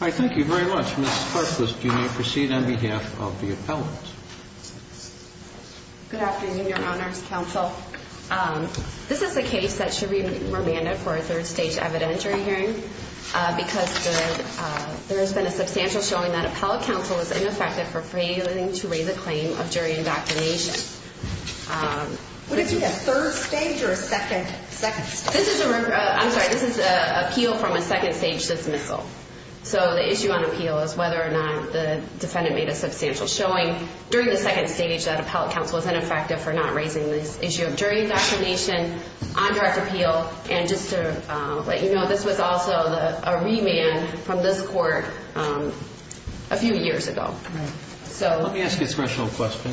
I thank you very much. Ms. Karchlis, you may proceed on behalf of the appellant. Good afternoon, Your Honors, Counsel. This is a case that should be remanded for a third stage evidentiary hearing because there has been a substantial showing that appellate counsel is ineffective for failing to raise a claim of jury indoctrination. Would it be a third stage or a second stage? I'm sorry, this is an appeal from a second stage dismissal. So the issue on appeal is whether or not the defendant made a substantial showing during the second stage that appellate counsel is ineffective for not raising this issue of jury indoctrination on direct appeal. And just to let you know, this was also a remand from this court a few years ago. Let me ask you a special question.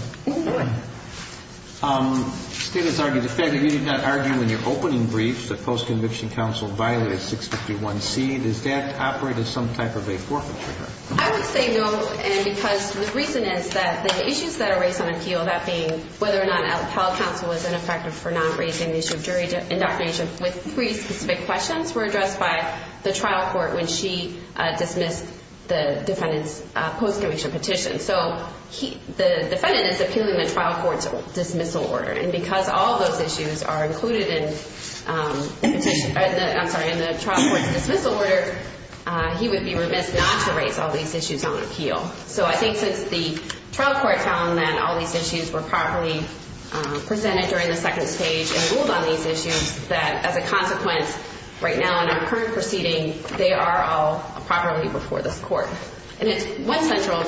State has argued, the fact that you did not argue in your opening brief that post-conviction counsel violated 651C, does that operate as some type of a forfeiture? I would say no, and because the reason is that the issues that are raised on appeal, that being whether or not appellate counsel is ineffective for not raising the issue of jury indoctrination with three specific questions were addressed by the trial court when she dismissed the defendant's post-conviction petition. So the defendant is appealing the trial court's dismissal order, and because all those issues are included in the trial court's dismissal order, he would be remiss not to raise all these issues on appeal. So I think since the trial court found that all these issues were properly presented during the second stage and ruled on these issues, that as a consequence, right now in our current proceeding, they are all properly before this court. And it's one central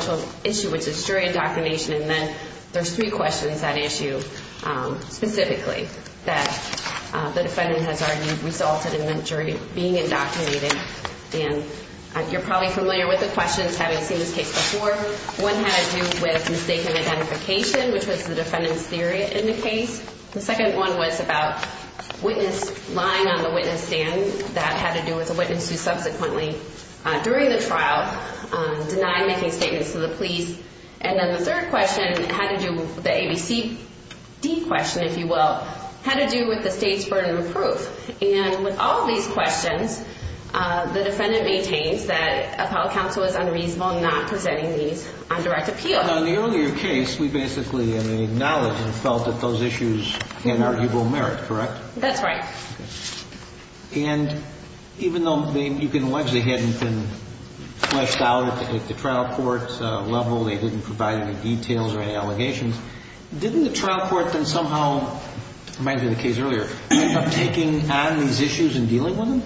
issue, which is jury indoctrination, and then there's three questions that issue specifically that the defendant has argued resulted in the jury being indoctrinated. And you're probably familiar with the questions, having seen this case before. One had to do with mistaken identification, which was the defendant's theory in the case. The second one was about lying on the witness stand. That had to do with a witness who subsequently, during the trial, denied making statements to the police. And then the third question had to do with the ABCD question, if you will, had to do with the state's burden of proof. And with all these questions, the defendant maintains that appellate counsel is unreasonable not presenting these on direct appeal. On the earlier case, we basically acknowledged and felt that those issues had arguable merit, correct? That's right. And even though you can allege they hadn't been fleshed out at the trial court level, they didn't provide any details or any allegations, didn't the trial court then somehow, it reminds me of the case earlier, end up taking on these issues and dealing with them?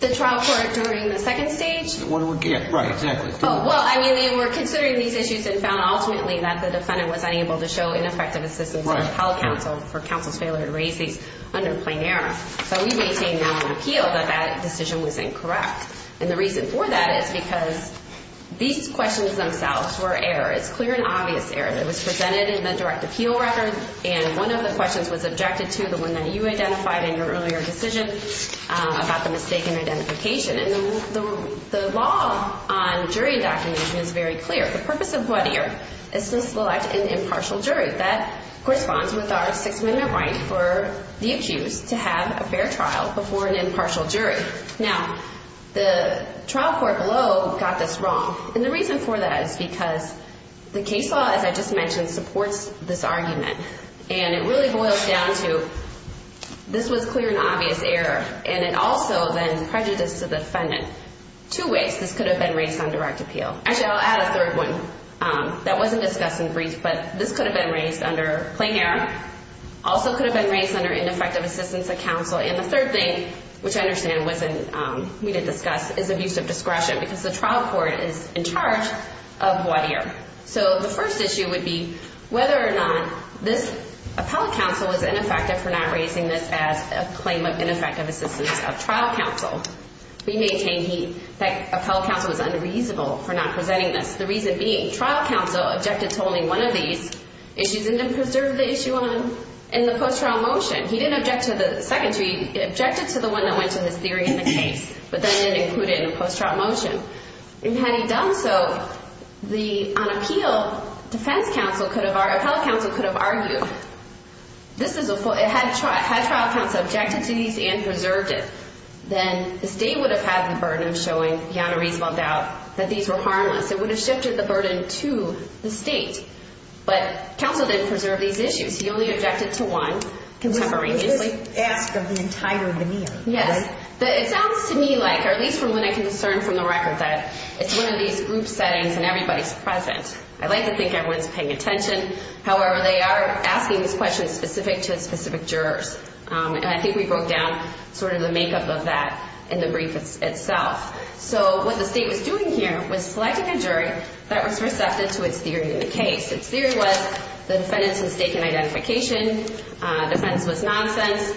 The trial court during the second stage? Yeah, right, exactly. Well, I mean, they were considering these issues and found ultimately that the defendant was unable to show ineffective assistance to appellate counsel for counsel's failure to raise these under plain error. So we maintain on appeal that that decision was incorrect. And the reason for that is because these questions themselves were errors, clear and obvious errors. It was presented in the direct appeal record, and one of the questions was objected to, the one that you identified in your earlier decision, about the mistaken identification. And the law on jury indoctrination is very clear. The purpose of Whittier is to select an impartial jury. That corresponds with our Sixth Amendment right for the accused to have a fair trial before an impartial jury. Now, the trial court below got this wrong, and the reason for that is because the case law, as I just mentioned, supports this argument. And it really boils down to this was clear and obvious error, and it also then prejudiced the defendant two ways. This could have been raised on direct appeal. Actually, I'll add a third one that wasn't discussed in brief, but this could have been raised under plain error. Also could have been raised under ineffective assistance of counsel. And the third thing, which I understand we didn't discuss, is abusive discretion because the trial court is in charge of Whittier. So the first issue would be whether or not this appellate counsel was ineffective for not raising this as a claim of ineffective assistance of trial counsel. We maintain that appellate counsel was unreasonable for not presenting this, the reason being trial counsel objected to only one of these issues and didn't preserve the issue in the post-trial motion. He didn't object to the second jury. He objected to the one that went to his theory in the case, but then didn't include it in the post-trial motion. And had he done so, on appeal, defense counsel could have argued, appellate counsel could have argued, had trial counsel objected to these and preserved it, then the state would have had the burden of showing beyond a reasonable doubt that these were harmless. It would have shifted the burden to the state. But counsel didn't preserve these issues. He only objected to one contemporaneously. He didn't ask of the entire veneer. Yes. It sounds to me like, or at least from what I can discern from the record, that it's one of these group settings and everybody's present. I like to think everyone's paying attention. However, they are asking these questions specific to specific jurors. And I think we broke down sort of the makeup of that in the brief itself. So what the state was doing here was selecting a jury that was receptive to its theory in the case. Its theory was the defendant's mistake in identification. Defense was nonsense.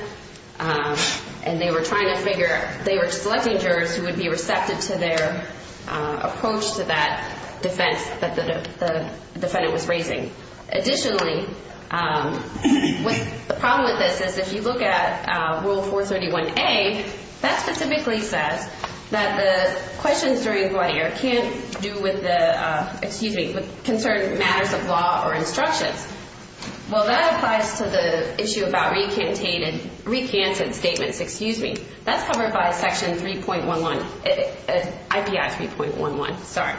And they were trying to figure, they were selecting jurors who would be receptive to their approach to that defense that the defendant was raising. Additionally, the problem with this is if you look at Rule 431A, that specifically says that the questions during the blood air can't do with the, excuse me, concern matters of law or instructions. Well, that applies to the issue about recanted statements. Excuse me. That's covered by Section 3.11, IPI 3.11. Sorry.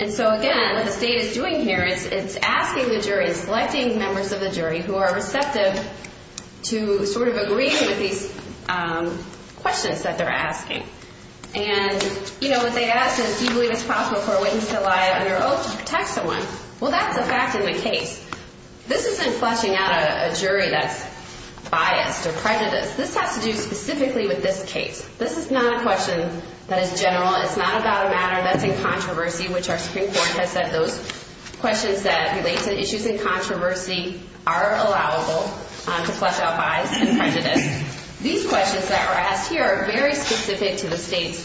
And so, again, what the state is doing here is it's asking the jury, selecting members of the jury who are receptive to sort of agreeing with these questions that they're asking. And, you know, what they ask is, do you believe it's possible for a witness to lie under oath to protect someone? Well, that's a fact in the case. This isn't fleshing out a jury that's biased or prejudiced. This has to do specifically with this case. This is not a question that is general. It's not about a matter that's in controversy, which our Supreme Court has said those questions that relate to issues in controversy are allowable to flesh out bias and prejudice. These questions that are asked here are very specific to the state's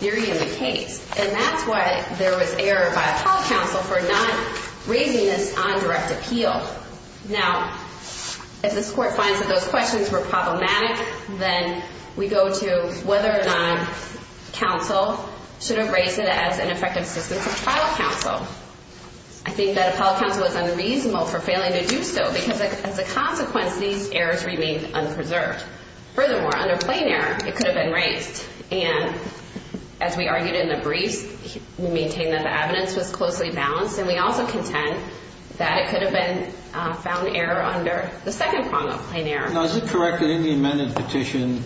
theory of the case. And that's why there was error by a court counsel for not raising this on direct appeal. Now, if this court finds that those questions were problematic, then we go to whether or not counsel should have raised it as an effective assistance of trial counsel. I think that a trial counsel was unreasonable for failing to do so because, as a consequence, these errors remained unpreserved. Furthermore, under plain error, it could have been raised. And as we argued in the briefs, we maintain that the evidence was closely balanced. And we also contend that it could have been found error under the second prong of plain error. Now, is it correct that in the amended petition,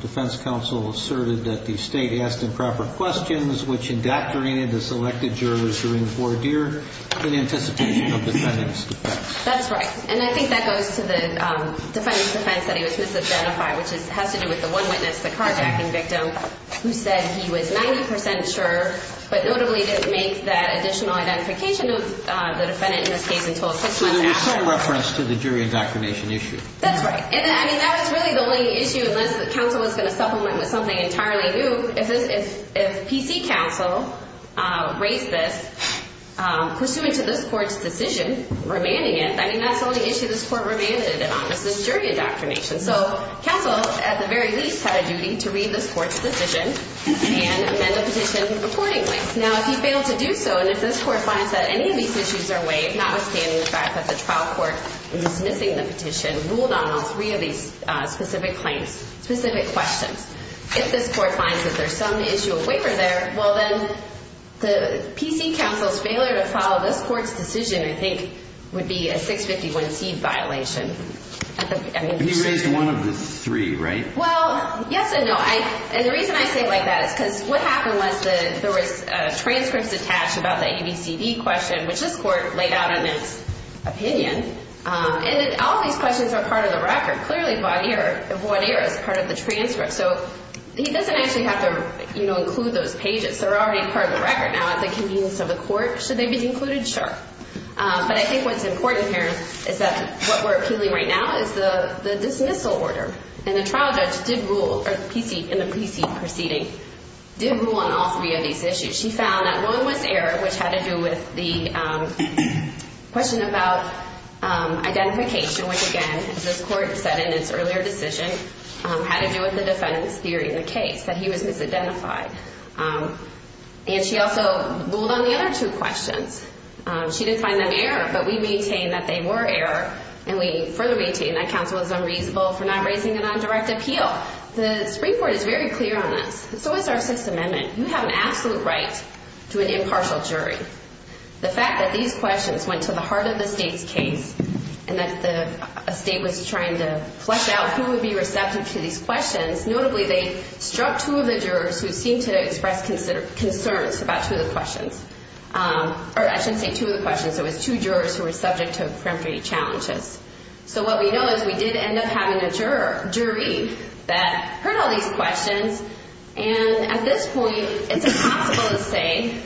defense counsel asserted that the state asked improper questions, which indoctrinated the selected jurors during voir dire in anticipation of defendant's defense? That's right. And I think that goes to the defendant's defense that he was misidentified, which has to do with the one witness, the carjacking victim, who said he was 90 percent sure but notably didn't make that additional identification of the defendant in this case until his testimony. So there was some reference to the jury indoctrination issue. That's right. And I mean, that was really the only issue, unless the counsel was going to supplement with something entirely new. If PC counsel raised this pursuant to this court's decision, remanding it, I mean, that's the only issue this court remanded it on, was this jury indoctrination. So counsel, at the very least, had a duty to read this court's decision and amend the petition accordingly. Now, if he failed to do so, and if this court finds that any of these issues are waived, notwithstanding the fact that the trial court in dismissing the petition ruled on all three of these specific claims, if this court finds that there's some issue waiver there, well, then the PC counsel's failure to follow this court's decision, I think, would be a 651C violation. He raised one of the three, right? Well, yes and no. And the reason I say it like that is because what happened was there was transcripts attached about the ABCD question, which this court laid out in its opinion, and all these questions are part of the record. Now, clearly, void error is part of the transcript. So he doesn't actually have to include those pages. They're already part of the record now at the convenience of the court. Should they be included? Sure. But I think what's important here is that what we're appealing right now is the dismissal order. And the trial judge did rule, in the PC proceeding, did rule on all three of these issues. She found that one was error, which had to do with the question about identification, which, again, as this court said in its earlier decision, had to do with the defendant's theory in the case, that he was misidentified. And she also ruled on the other two questions. She didn't find them error, but we maintain that they were error, and we further maintain that counsel is unreasonable for not raising it on direct appeal. The Supreme Court is very clear on this. It's always our Sixth Amendment. You have an absolute right to an impartial jury. The fact that these questions went to the heart of the state's case and that a state was trying to flesh out who would be receptive to these questions, notably they struck two of the jurors who seemed to express concerns about two of the questions. Or I shouldn't say two of the questions. It was two jurors who were subject to preemptory challenges. So what we know is we did end up having a jury that heard all these questions, and at this point it's impossible to say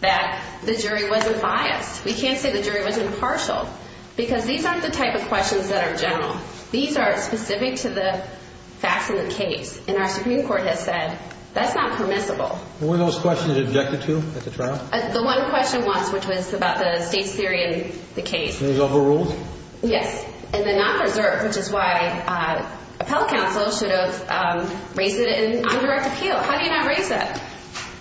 that the jury wasn't biased. We can't say the jury was impartial because these aren't the type of questions that are general. These are specific to the facts in the case, and our Supreme Court has said that's not permissible. Were those questions objected to at the trial? The one question was, which was about the state's theory in the case. And it was overruled? Yes. And the non-preserve, which is why appellate counsel should have raised it in undirect appeal. How do you not raise that?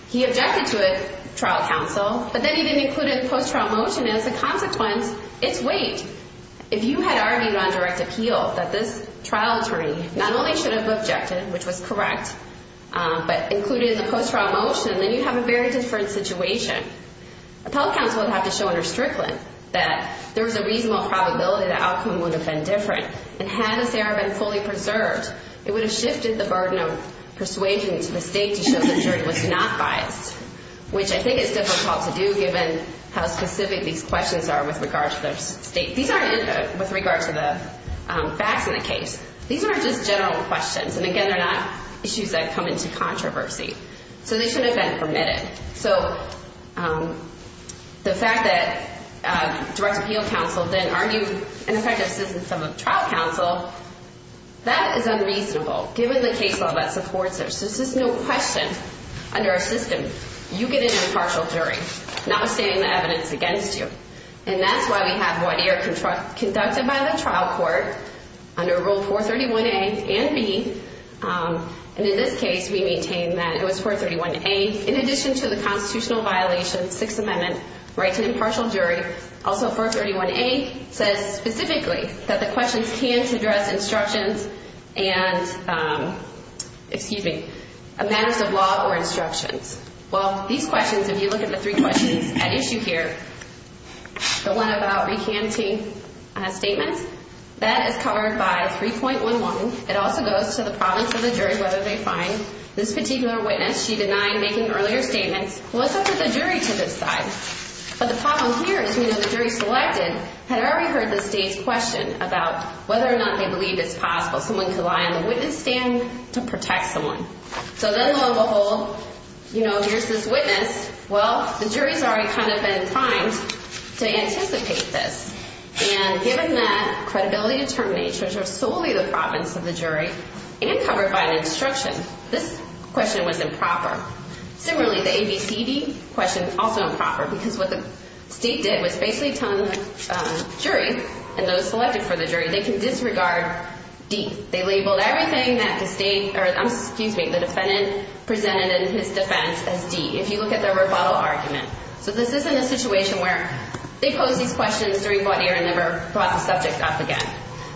He objected to it, trial counsel, but then he didn't include it in the post-trial motion, and as a consequence, it's weight. If you had argued on direct appeal that this trial attorney not only should have objected, which was correct, but included it in the post-trial motion, then you'd have a very different situation. Appellate counsel would have to show under Strickland that there was a reasonable probability the outcome would have been different, and had this error been fully preserved, it would have shifted the burden of persuasion to the state to show the jury was not biased, which I think is difficult to do given how specific these questions are with regard to the facts in the case. These aren't just general questions, and again, they're not issues that come into controversy. So they shouldn't have been permitted. So the fact that direct appeal counsel then argued in effect assistance of a trial counsel, that is unreasonable, given the case law that supports it. So this is no question under our system. You get an impartial jury, notwithstanding the evidence against you, and that's why we have void here conducted by the trial court under Rule 431A and B, and in this case we maintain that it was 431A. In addition to the constitutional violation, Sixth Amendment, right to impartial jury, also 431A says specifically that the questions can't address instructions and matters of law or instructions. Well, these questions, if you look at the three questions at issue here, the one about recanting statements, that is covered by 3.11. It also goes to the province of the jury whether they find this particular witness. She denied making earlier statements. What's up with the jury to this side? But the problem here is we know the jury selected had already heard the state's question about whether or not they believe it's possible someone could lie on the witness stand to protect someone. So then lo and behold, you know, here's this witness. Well, the jury's already kind of been primed to anticipate this, and given that credibility determinations are solely the province of the jury and covered by an instruction, this question was improper. Similarly, the ABCD question is also improper because what the state did was basically tell the jury and those selected for the jury they can disregard D. They labeled everything that the defendant presented in his defense as D, if you look at their rebuttal argument. So this isn't a situation where they pose these questions during court hearing and never brought the subject up again.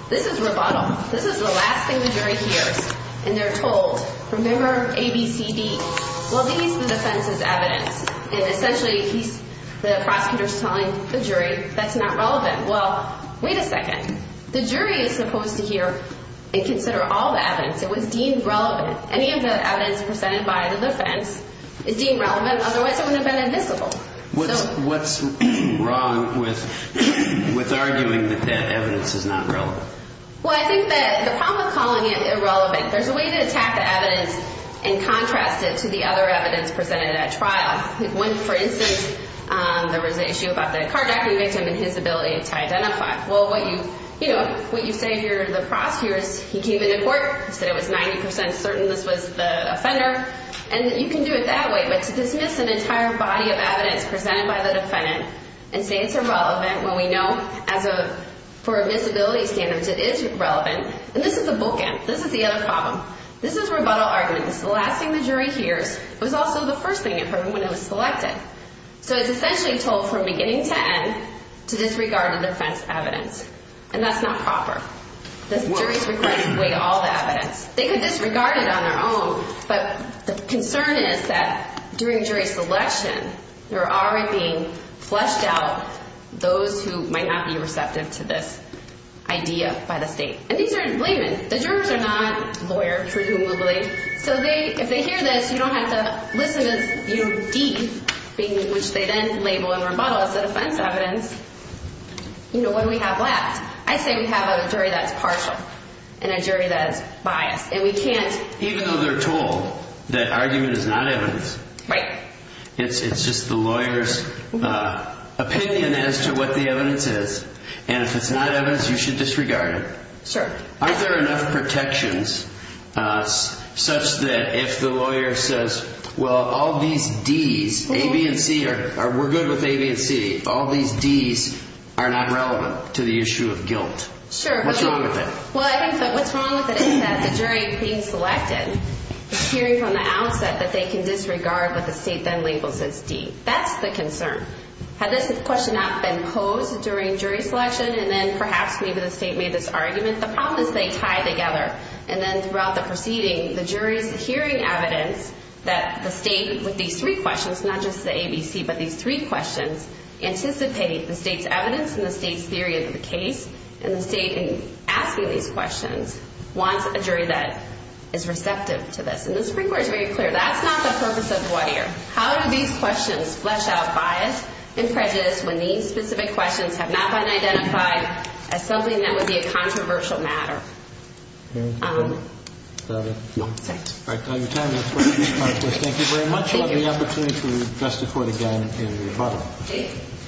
This is rebuttal. This is the last thing the jury hears, and they're told, remember ABCD? Well, these are the defense's evidence. And essentially, the prosecutor's telling the jury that's not relevant. Well, wait a second. The jury is supposed to hear and consider all the evidence. It was deemed relevant. Any of the evidence presented by the defense is deemed relevant. Otherwise, it wouldn't have been admissible. What's wrong with arguing that that evidence is not relevant? Well, I think that the problem with calling it irrelevant, there's a way to attack the evidence and contrast it to the other evidence presented at trial. For instance, there was an issue about the carjacking victim and his ability to identify. Well, what you say here to the prosecutor is he came into court, said it was 90% certain this was the offender, and you can do it that way. But to dismiss an entire body of evidence presented by the defendant and say it's irrelevant when we know for admissibility standards it is relevant, and this is a bookend. This is the other problem. This is rebuttal argument. This is the last thing the jury hears. It was also the first thing it heard when it was selected. So it's essentially told from beginning to end to disregard the defense's evidence, and that's not proper. The jury is required to weigh all the evidence. They could disregard it on their own, but the concern is that during jury selection, there are already being fleshed out those who might not be receptive to this idea by the state, and these are in laymen. The jurors are not lawyers for whom we'll believe. So if they hear this, you don't have to listen as deep, which they then label in rebuttal as the defense evidence. You know, what do we have left? I say we have a jury that's partial and a jury that's biased, and we can't even though they're told that argument is not evidence. Right. It's just the lawyer's opinion as to what the evidence is, and if it's not evidence, you should disregard it. Sure. Aren't there enough protections such that if the lawyer says, well, all these Ds, A, B, and C, or we're good with A, B, and C. All these Ds are not relevant to the issue of guilt. Sure. What's wrong with that? Well, I think that what's wrong with it is that the jury being selected is hearing from the outset that they can disregard what the state then labels as D. That's the concern. Had this question not been posed during jury selection, and then perhaps maybe the state made this argument, the problem is they tie together. And then throughout the proceeding, the jury's hearing evidence that the state, with these three questions, not just the A, B, C, but these three questions anticipate the state's evidence and the state's And the state, in asking these questions, wants a jury that is receptive to this. And the Supreme Court is very clear. That's not the purpose of the lawyer. How do these questions flesh out bias and prejudice when these specific questions have not been identified as something that would be a controversial matter? All right. All your time is up. Thank you very much. Thank you. We'll have the opportunity to address the Court again in rebuttal.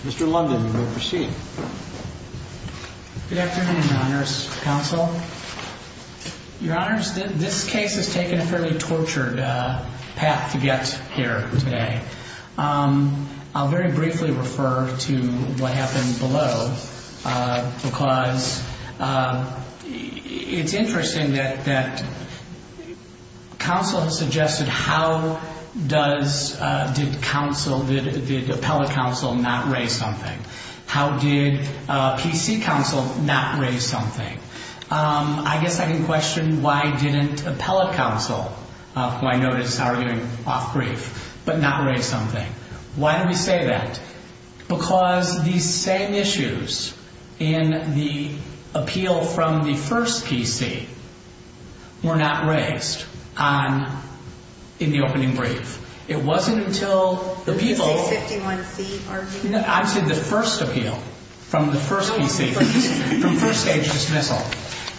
Mr. London, you may proceed. Good afternoon, Your Honors. Counsel. Your Honors, this case has taken a fairly tortured path to get here today. I'll very briefly refer to what happened below, because it's interesting that counsel has suggested how does, did counsel, did appellate counsel not raise something? How did PC counsel not raise something? I guess I can question why didn't appellate counsel, who I notice is arguing off brief, but not raise something? Why do we say that? Because these same issues in the appeal from the first PC were not raised in the opening brief. It wasn't until the people. The 51C argument. I said the first appeal from the first PC, from first stage dismissal.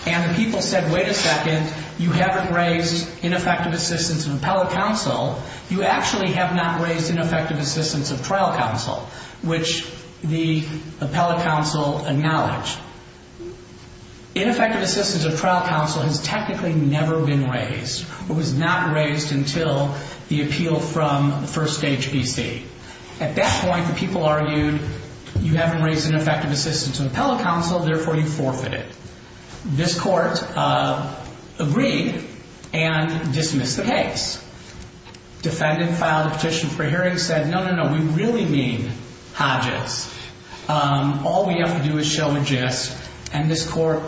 And the people said, wait a second, you haven't raised ineffective assistance of appellate counsel. You actually have not raised ineffective assistance of trial counsel, which the appellate counsel acknowledged. Ineffective assistance of trial counsel has technically never been raised or was not raised until the appeal from the first stage PC. At that point, the people argued, you haven't raised ineffective assistance of appellate counsel, therefore you forfeit it. This court agreed and dismissed the case. Defendant filed a petition for hearing and said, no, no, no, we really mean Hodges. All we have to do is show a gist. And this court,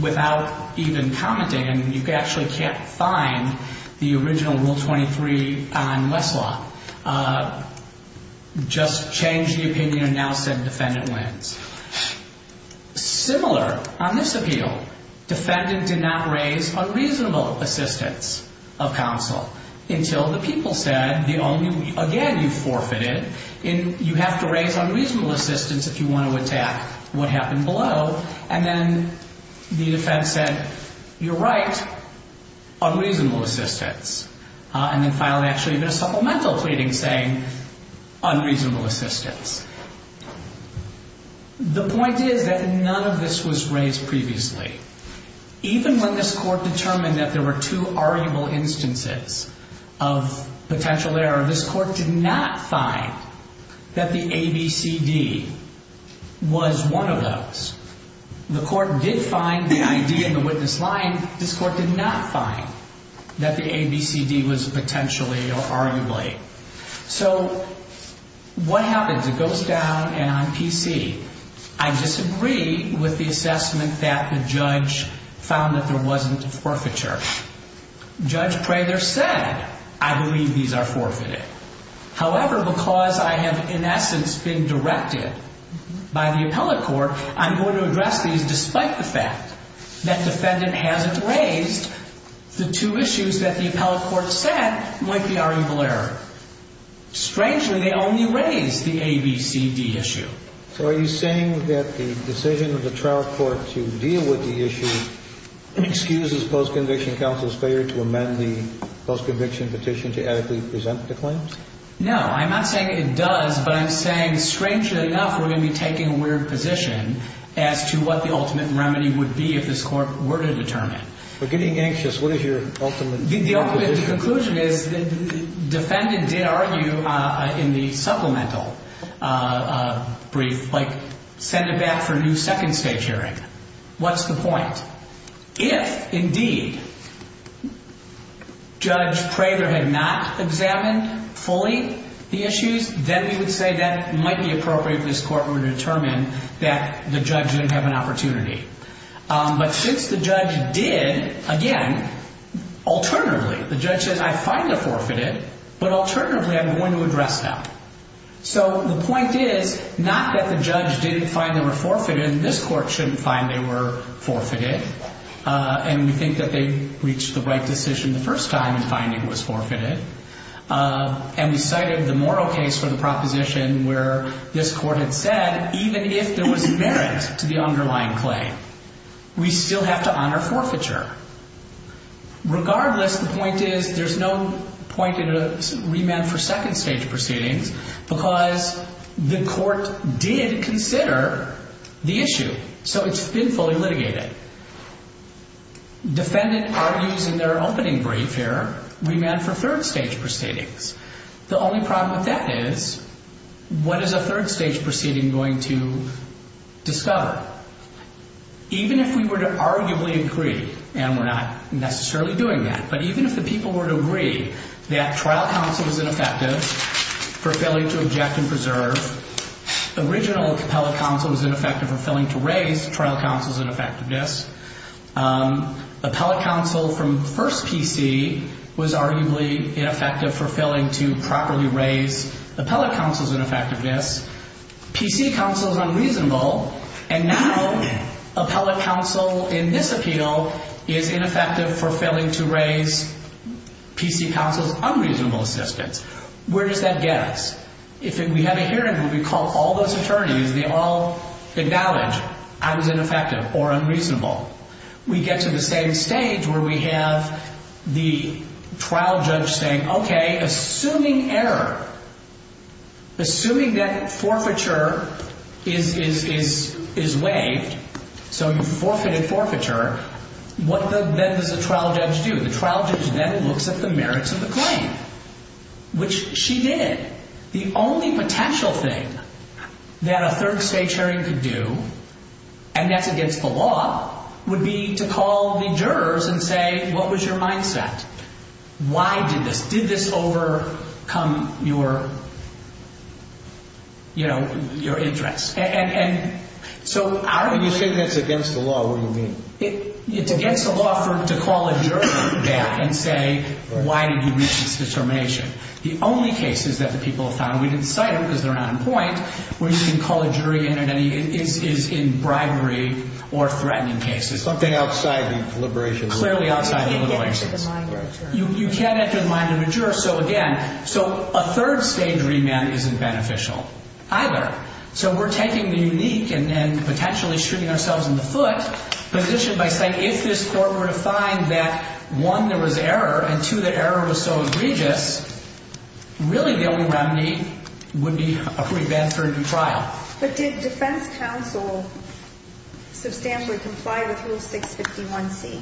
without even commenting, and you actually can't find the original Rule 23 on Westlaw, just changed the opinion and now said defendant wins. Similar on this appeal, defendant did not raise unreasonable assistance of counsel until the people said, again, you forfeited. You have to raise unreasonable assistance if you want to attack what happened below. And then the defense said, you're right, unreasonable assistance. And then finally, actually, there's supplemental pleading saying unreasonable assistance. The point is that none of this was raised previously. Even when this court determined that there were two arguable instances of potential error, this court did not find that the ABCD was one of those. The court did find the ID in the witness line. This court did not find that the ABCD was potentially or arguably. So what happens? It goes down and on PC. I disagree with the assessment that the judge found that there wasn't forfeiture. Judge Prather said, I believe these are forfeited. However, because I have, in essence, been directed by the appellate court, I'm going to address these despite the fact that defendant hasn't raised the two issues that the appellate court said might be arguable error. Strangely, they only raised the ABCD issue. So are you saying that the decision of the trial court to deal with the issue excuses post-conviction counsel's failure to amend the post-conviction petition to adequately present the claims? No, I'm not saying it does, but I'm saying, strangely enough, we're going to be taking a weird position as to what the ultimate remedy would be if this court were to determine. We're getting anxious. What is your ultimate conclusion? The ultimate conclusion is the defendant did argue in the supplemental brief, like send it back for a new second-stage hearing. What's the point? If, indeed, Judge Prather had not examined fully the issues, then we would say that might be appropriate if this court were to determine that the judge didn't have an opportunity. But since the judge did, again, alternatively, the judge says, I find they're forfeited, but alternatively, I'm going to address them. So the point is not that the judge didn't find they were forfeited and this court shouldn't find they were forfeited, and we think that they reached the right decision the first time in finding it was forfeited, and we cited the moral case for the proposition where this court had said, even if there was merit to the underlying claim, we still have to honor forfeiture. Regardless, the point is there's no point in a remand for second-stage proceedings because the court did consider the issue, so it's been fully litigated. Defendant argues in their opening brief here remand for third-stage proceedings. The only problem with that is what is a third-stage proceeding going to discover? Even if we were to arguably agree, and we're not necessarily doing that, but even if the people were to agree that trial counsel was ineffective for failing to object and preserve, original appellate counsel was ineffective for failing to raise trial counsel's ineffectiveness, appellate counsel from first PC was arguably ineffective for failing to properly raise appellate counsel's ineffectiveness, PC counsel is unreasonable, and now appellate counsel in this appeal is ineffective for failing to raise PC counsel's unreasonable assistance. Where does that get us? If we have a hearing where we call all those attorneys and they all acknowledge I was ineffective or unreasonable, we get to the same stage where we have the trial judge saying, okay, assuming error, assuming that forfeiture is waived, so you forfeited forfeiture, what then does the trial judge do? The trial judge then looks at the merits of the claim, which she did. The only potential thing that a third-stage hearing could do, and that's against the law, would be to call the jurors and say, what was your mindset? Why did this? Did this overcome your, you know, your interests? And so our view is that it's against the law. What do you mean? It's against the law to call a jury back and say, why did you make this determination? The only cases that the people have found, and we didn't cite them because they're not on point, where you can call a jury in is in bribery or threatening cases. Something outside the deliberations. Clearly outside the deliberations. You can't enter the mind of a juror. You can't enter the mind of a juror. So, again, so a third-stage remand isn't beneficial either. So we're taking the unique and potentially shooting ourselves in the foot position by saying, if this court were to find that, one, there was error, and, two, the error was so egregious, really the only remedy would be a pre-Banford trial. But did defense counsel substantially comply with Rule 651C?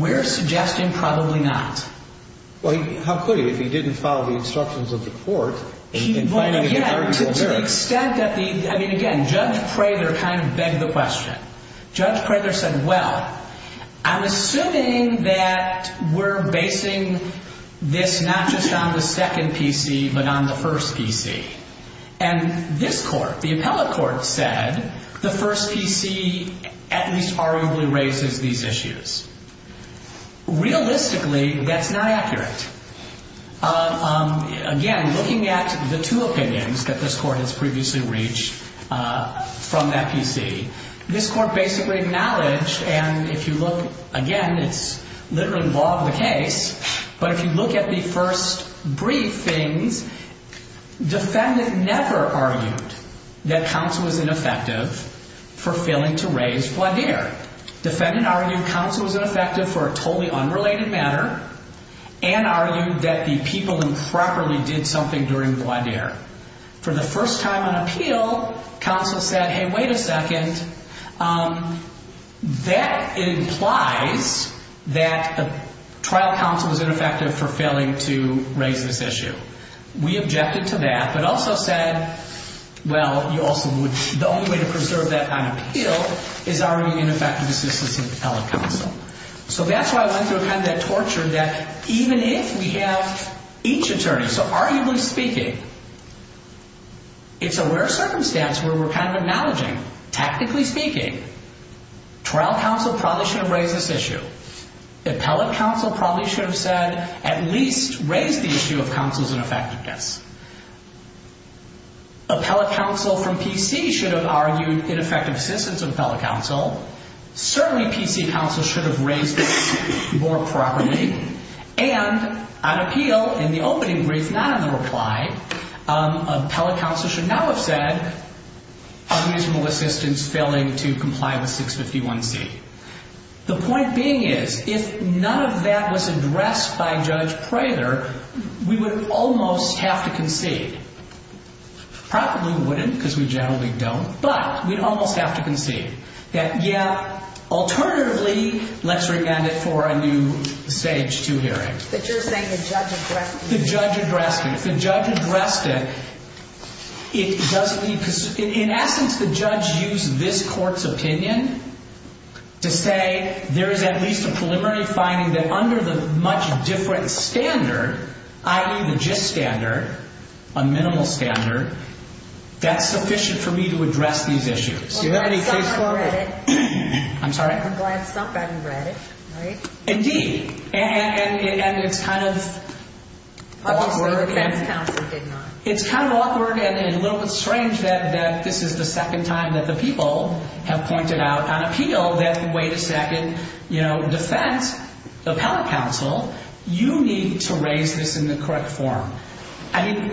We're suggesting probably not. Well, how could he if he didn't follow the instructions of the court? Well, again, to the extent that the, I mean, again, Judge Prather kind of begged the question. Judge Prather said, well, I'm assuming that we're basing this not just on the second PC but on the first PC. And this court, the appellate court, said the first PC at least arguably raises these issues. Realistically, that's not accurate. Again, looking at the two opinions that this court has previously reached from that PC, this court basically acknowledged, and if you look, again, it's literally involved in the case, but if you look at the first briefings, defendant never argued that counsel was ineffective for failing to raise Gladier. Defendant argued counsel was ineffective for a totally unrelated matter and argued that the people improperly did something during Gladier. For the first time on appeal, counsel said, hey, wait a second, that implies that the trial counsel was ineffective for failing to raise this issue. We objected to that but also said, well, you also would, the only way to preserve that on appeal is arguing ineffective assistance of appellate counsel. So that's why I went through kind of that torture that even if we have each attorney, so arguably speaking, it's a rare circumstance where we're kind of acknowledging, technically speaking, trial counsel probably should have raised this issue. Appellate counsel probably should have said at least raise the issue of counsel's ineffectiveness. Appellate counsel from PC should have argued ineffective assistance of appellate counsel. Certainly PC counsel should have raised this more properly. And on appeal, in the opening brief, not in the reply, appellate counsel should now have said unreasonable assistance failing to comply with 651C. The point being is if none of that was addressed by Judge Prather, we would almost have to concede. Probably we wouldn't because we generally don't, but we'd almost have to concede. That, yeah, alternatively, let's re-end it for a new stage two hearing. But you're saying the judge addressed it? The judge addressed it. If the judge addressed it, it doesn't mean, in essence, the judge used this court's opinion to say there is at least a preliminary finding that under the much different standard, i.e. the JIST standard, a minimal standard, that's sufficient for me to address these issues. Well, glad some have read it. I'm sorry? I'm glad some haven't read it, right? Indeed. And it's kind of awkward. Also the defense counsel did not. It's kind of awkward and a little bit strange that this is the second time that the people have pointed out on appeal that, wait a second, defense, appellate counsel, you need to raise this in the correct form. I mean,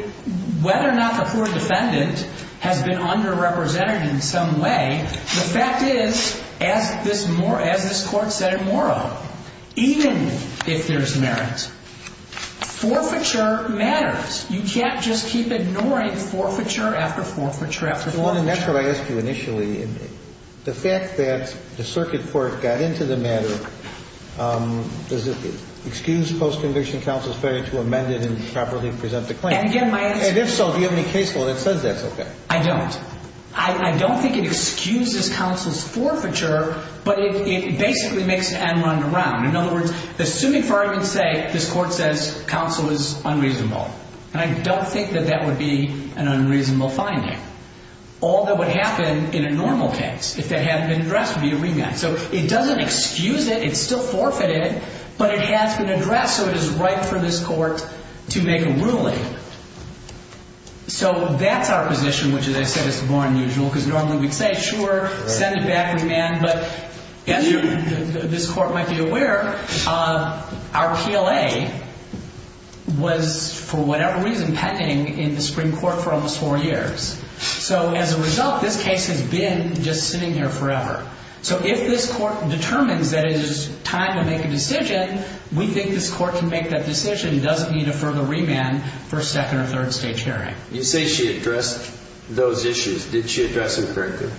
whether or not the poor defendant has been underrepresented in some way, the fact is, as this court said at Morrow, even if there's merit, forfeiture matters. You can't just keep ignoring forfeiture after forfeiture after forfeiture. And that's what I asked you initially. The fact that the circuit court got into the matter, does it excuse post-conviction counsel's failure to amend it and properly present the claim? And, again, my answer is no. And if so, do you have any case law that says that's okay? I don't. I don't think it excuses counsel's forfeiture, but it basically makes it unwound around. In other words, assuming for argument's sake, this court says counsel is unreasonable, and I don't think that that would be an unreasonable finding. All that would happen in a normal case, if that hadn't been addressed, would be a remand. So it doesn't excuse it. It's still forfeited, but it has been addressed, so it is right for this court to make a ruling. So that's our position, which, as I said, is more unusual, because normally we'd say, sure, send it back, remand. But as this court might be aware, our PLA was, for whatever reason, pending in the Supreme Court for almost four years. So as a result, this case has been just sitting here forever. So if this court determines that it is time to make a decision, we think this court can make that decision. It doesn't need a further remand for a second or third stage hearing. You say she addressed those issues. Did she address them correctly?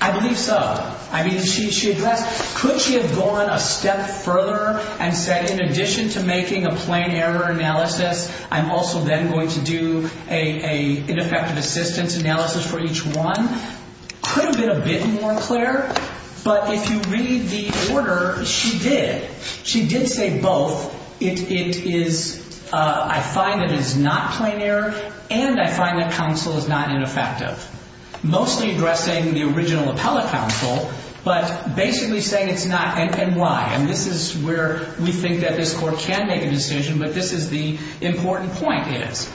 I believe so. I mean, she addressed them. Could she have gone a step further and said, in addition to making a plain error analysis, I'm also then going to do an ineffective assistance analysis for each one? Could have been a bit more clear, but if you read the order, she did. She did say both. It is, I find it is not plain error, and I find that counsel is not ineffective. Mostly addressing the original appellate counsel, but basically saying it's not, and why. And this is where we think that this court can make a decision, but this is the important point is.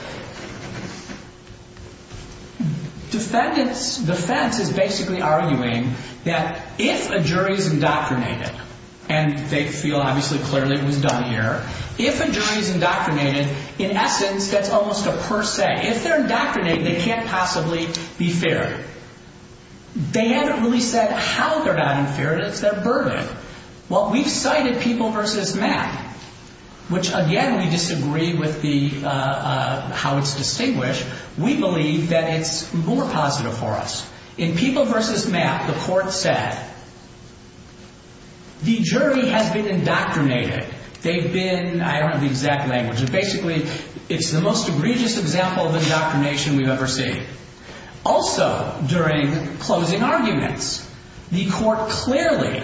Defendants' defense is basically arguing that if a jury is indoctrinated, and they feel obviously clearly it was done here. If a jury is indoctrinated, in essence, that's almost a per se. If they're indoctrinated, they can't possibly be fair. They haven't really said how they're not unfair. It's their burden. Well, we've cited People v. Map, which again, we disagree with how it's distinguished. We believe that it's more positive for us. In People v. Map, the court said, the jury has been indoctrinated. They've been, I don't have the exact language, but basically, it's the most egregious example of indoctrination we've ever seen. Also, during closing arguments, the court clearly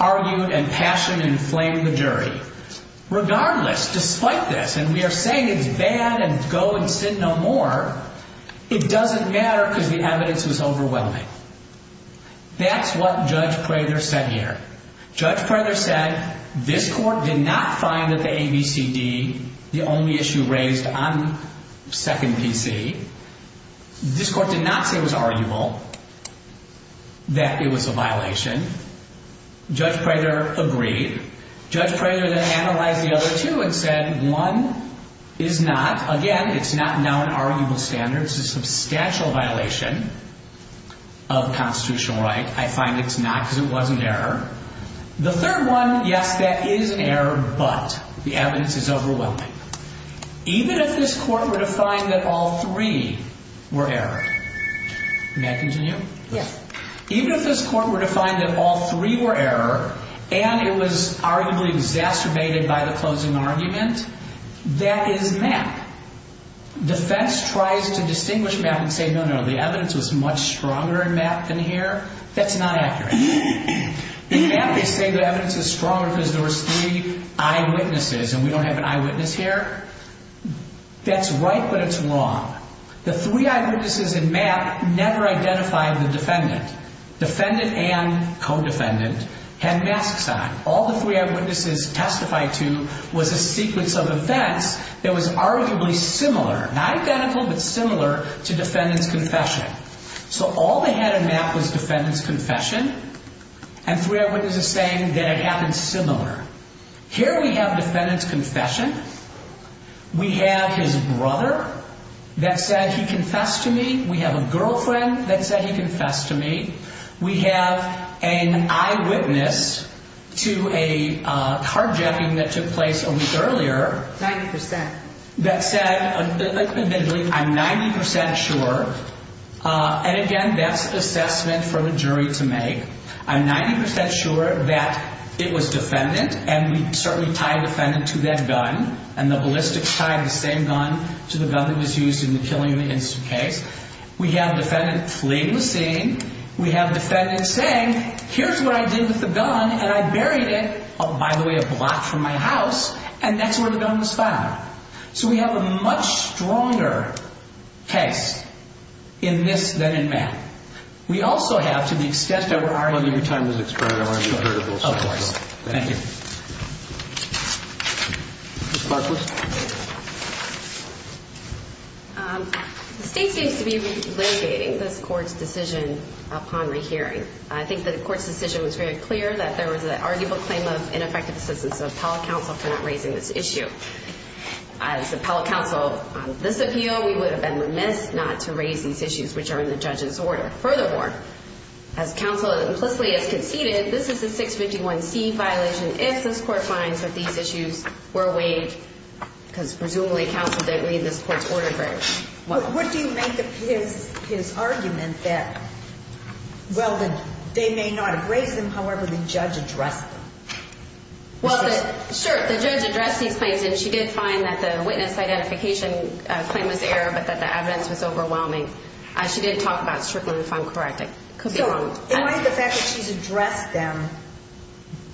argued and passionately inflamed the jury. Regardless, despite this, and we are saying it's bad and go and sit no more, it doesn't matter because the evidence was overwhelming. That's what Judge Prather said here. Judge Prather said, this court did not find that the ABCD, the only issue raised on Second PC, this court did not say it was arguable that it was a violation. Judge Prather agreed. Judge Prather then analyzed the other two and said, one is not. Again, it's not now an arguable standard. It's a substantial violation of constitutional right. I find it's not because it was an error. The third one, yes, that is an error, but the evidence is overwhelming. Even if this court were to find that all three were error. May I continue? Yes. Even if this court were to find that all three were error and it was arguably exacerbated by the closing argument, that is Map. Defense tries to distinguish Map and say, no, no, the evidence was much stronger in Map than here. That's not accurate. In Map, they say the evidence is stronger because there was three eyewitnesses and we don't have an eyewitness here. That's right, but it's wrong. The three eyewitnesses in Map never identified the defendant. Defendant and co-defendant had masks on. All the three eyewitnesses testified to was a sequence of events that was arguably similar, not identical, but similar to defendant's confession. So all they had in Map was defendant's confession and three eyewitnesses saying that it happened similar. Here we have defendant's confession. We have his brother that said he confessed to me. We have a girlfriend that said he confessed to me. We have an eyewitness to a carjacking that took place a week earlier. 90%. That said, admittedly, I'm 90% sure. And again, that's an assessment for the jury to make. I'm 90% sure that it was defendant and we certainly tied defendant to that gun and the ballistics tied the same gun to the gun that was used in the killing of the instant case. We have defendant fleeing the scene. We have defendant saying, here's what I did with the gun and I buried it, by the way, a block from my house. And that's where the gun was found. So we have a much stronger case in this than in Map. We also have, to the extent that we're arguing. Well, every time there's an experiment, I want to get rid of those. Of course. Thank you. Ms. Markless. The state seems to be litigating this court's decision upon my hearing. I think that the court's decision was very clear that there was an arguable claim of ineffective assistance of appellate counsel for not raising this issue. As appellate counsel on this appeal, we would have been remiss not to raise these issues, which are in the judge's order. Furthermore, as counsel implicitly has conceded, this is a 651C violation. If this court finds that these issues were weighed, because presumably counsel did read this court's order very well. What do you make of his argument that, well, they may not have raised them, however the judge addressed them? Well, sure, the judge addressed these claims, and she did find that the witness identification claim was error, but that the evidence was overwhelming. She didn't talk about Strickland, if I'm correct. In light of the fact that she's addressed them,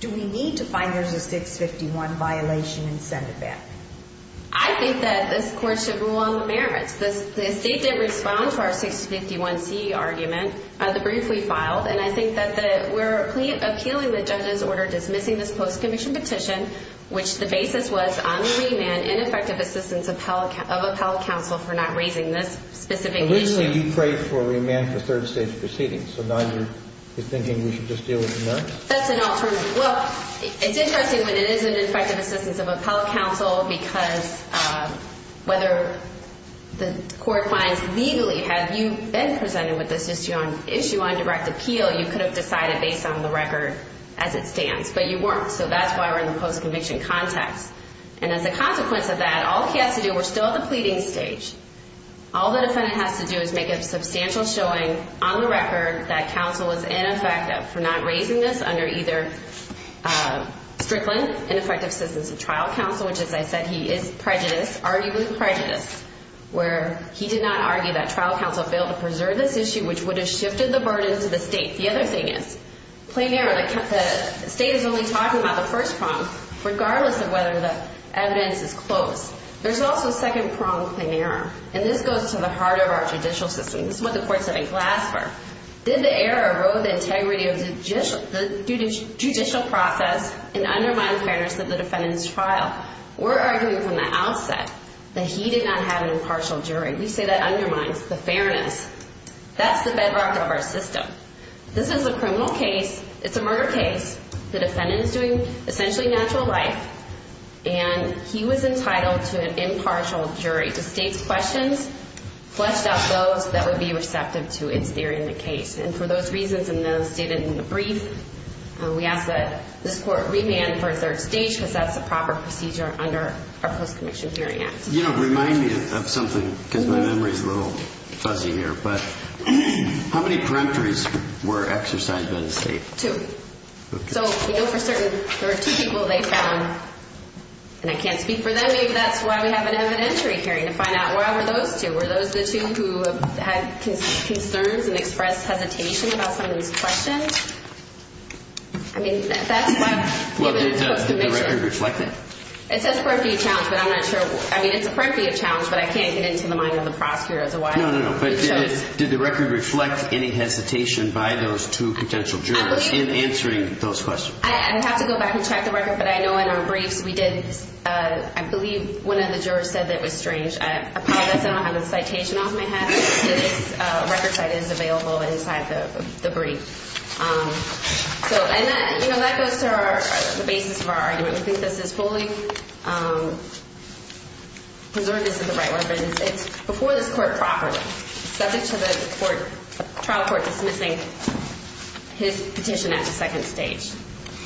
do we need to find there's a 651 violation and send it back? I think that this court should rule on the merits. The state did respond to our 651C argument, the brief we filed, and I think that we're appealing the judge's order dismissing this post-conviction petition, which the basis was on remand, ineffective assistance of appellate counsel for not raising this specific issue. Originally, you prayed for remand for third-stage proceedings, so now you're thinking we should just deal with the merits? That's an alternative. Well, it's interesting when it isn't effective assistance of appellate counsel, because whether the court finds legally, have you been presented with this issue on direct appeal, you could have decided based on the record as it stands, but you weren't. So that's why we're in the post-conviction context. And as a consequence of that, all he has to do, we're still at the pleading stage, all the defendant has to do is make a substantial showing on the record that counsel was ineffective for not raising this under either Strickland, ineffective assistance of trial counsel, which, as I said, he is prejudiced, arguably prejudiced, where he did not argue that trial counsel failed to preserve this issue, which would have shifted the burden to the state. The other thing is, plain error. The state is only talking about the first prong, regardless of whether the evidence is close. There's also a second prong, plain error, and this goes to the heart of our judicial system. This is what the courts have been glassed for. Did the error erode the integrity of the judicial process and undermine the fairness of the defendant's trial? We're arguing from the outset that he did not have an impartial jury. We say that undermines the fairness. That's the bedrock of our system. This is a criminal case. It's a murder case. The defendant is doing essentially natural life, and he was entitled to an impartial jury. The state's questions fleshed out those that would be receptive to its theory in the case. And for those reasons, and those stated in the brief, we ask that this court remand for a third stage because that's the proper procedure under our Post-Commission Hearing Act. You know, remind me of something because my memory is a little fuzzy here, but how many peremptories were exercised by the state? Two. So, you know, for certain, there were two people they found, and I can't speak for them. Maybe that's why we have an evidentiary hearing to find out where were those two. Were those the two who had concerns and expressed hesitation about some of these questions? I mean, that's what the Post-Commission. Well, did the record reflect that? It says a preemptive challenge, but I'm not sure. I mean, it's a preemptive challenge, but I can't get into the mind of the prosecutor as to why. No, no, no. But did the record reflect any hesitation by those two potential jurors in answering those questions? I'd have to go back and check the record, but I know in our briefs we did. I believe one of the jurors said that it was strange. I apologize. I don't have a citation off my head. This record site is available inside the brief. And that goes to the basis of our argument. We think this is fully preserved as in the right way. But it's before this court properly, subject to the trial court dismissing his petition at the second stage.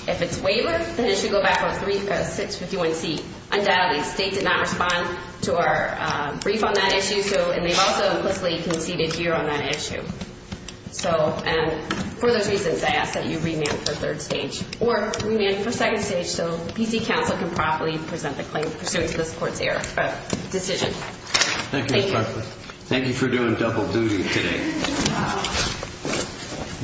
If it's waivered, then it should go back on 651C. Undoubtedly, the state did not respond to our brief on that issue, and they've also implicitly conceded here on that issue. So for those reasons, I ask that you remand for third stage. Or remand for second stage so B.C. Counsel can properly present the claim pursuant to this court's decision. Thank you, Ms. Barclay. Thank you for doing double duty today.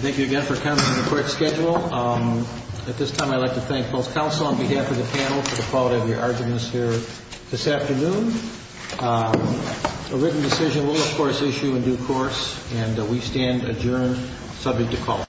Thank you again for coming to the court schedule. At this time, I'd like to thank both counsel on behalf of the panel for the quality of your arguments here this afternoon. A written decision will, of course, issue in due course, and we stand adjourned, subject to call.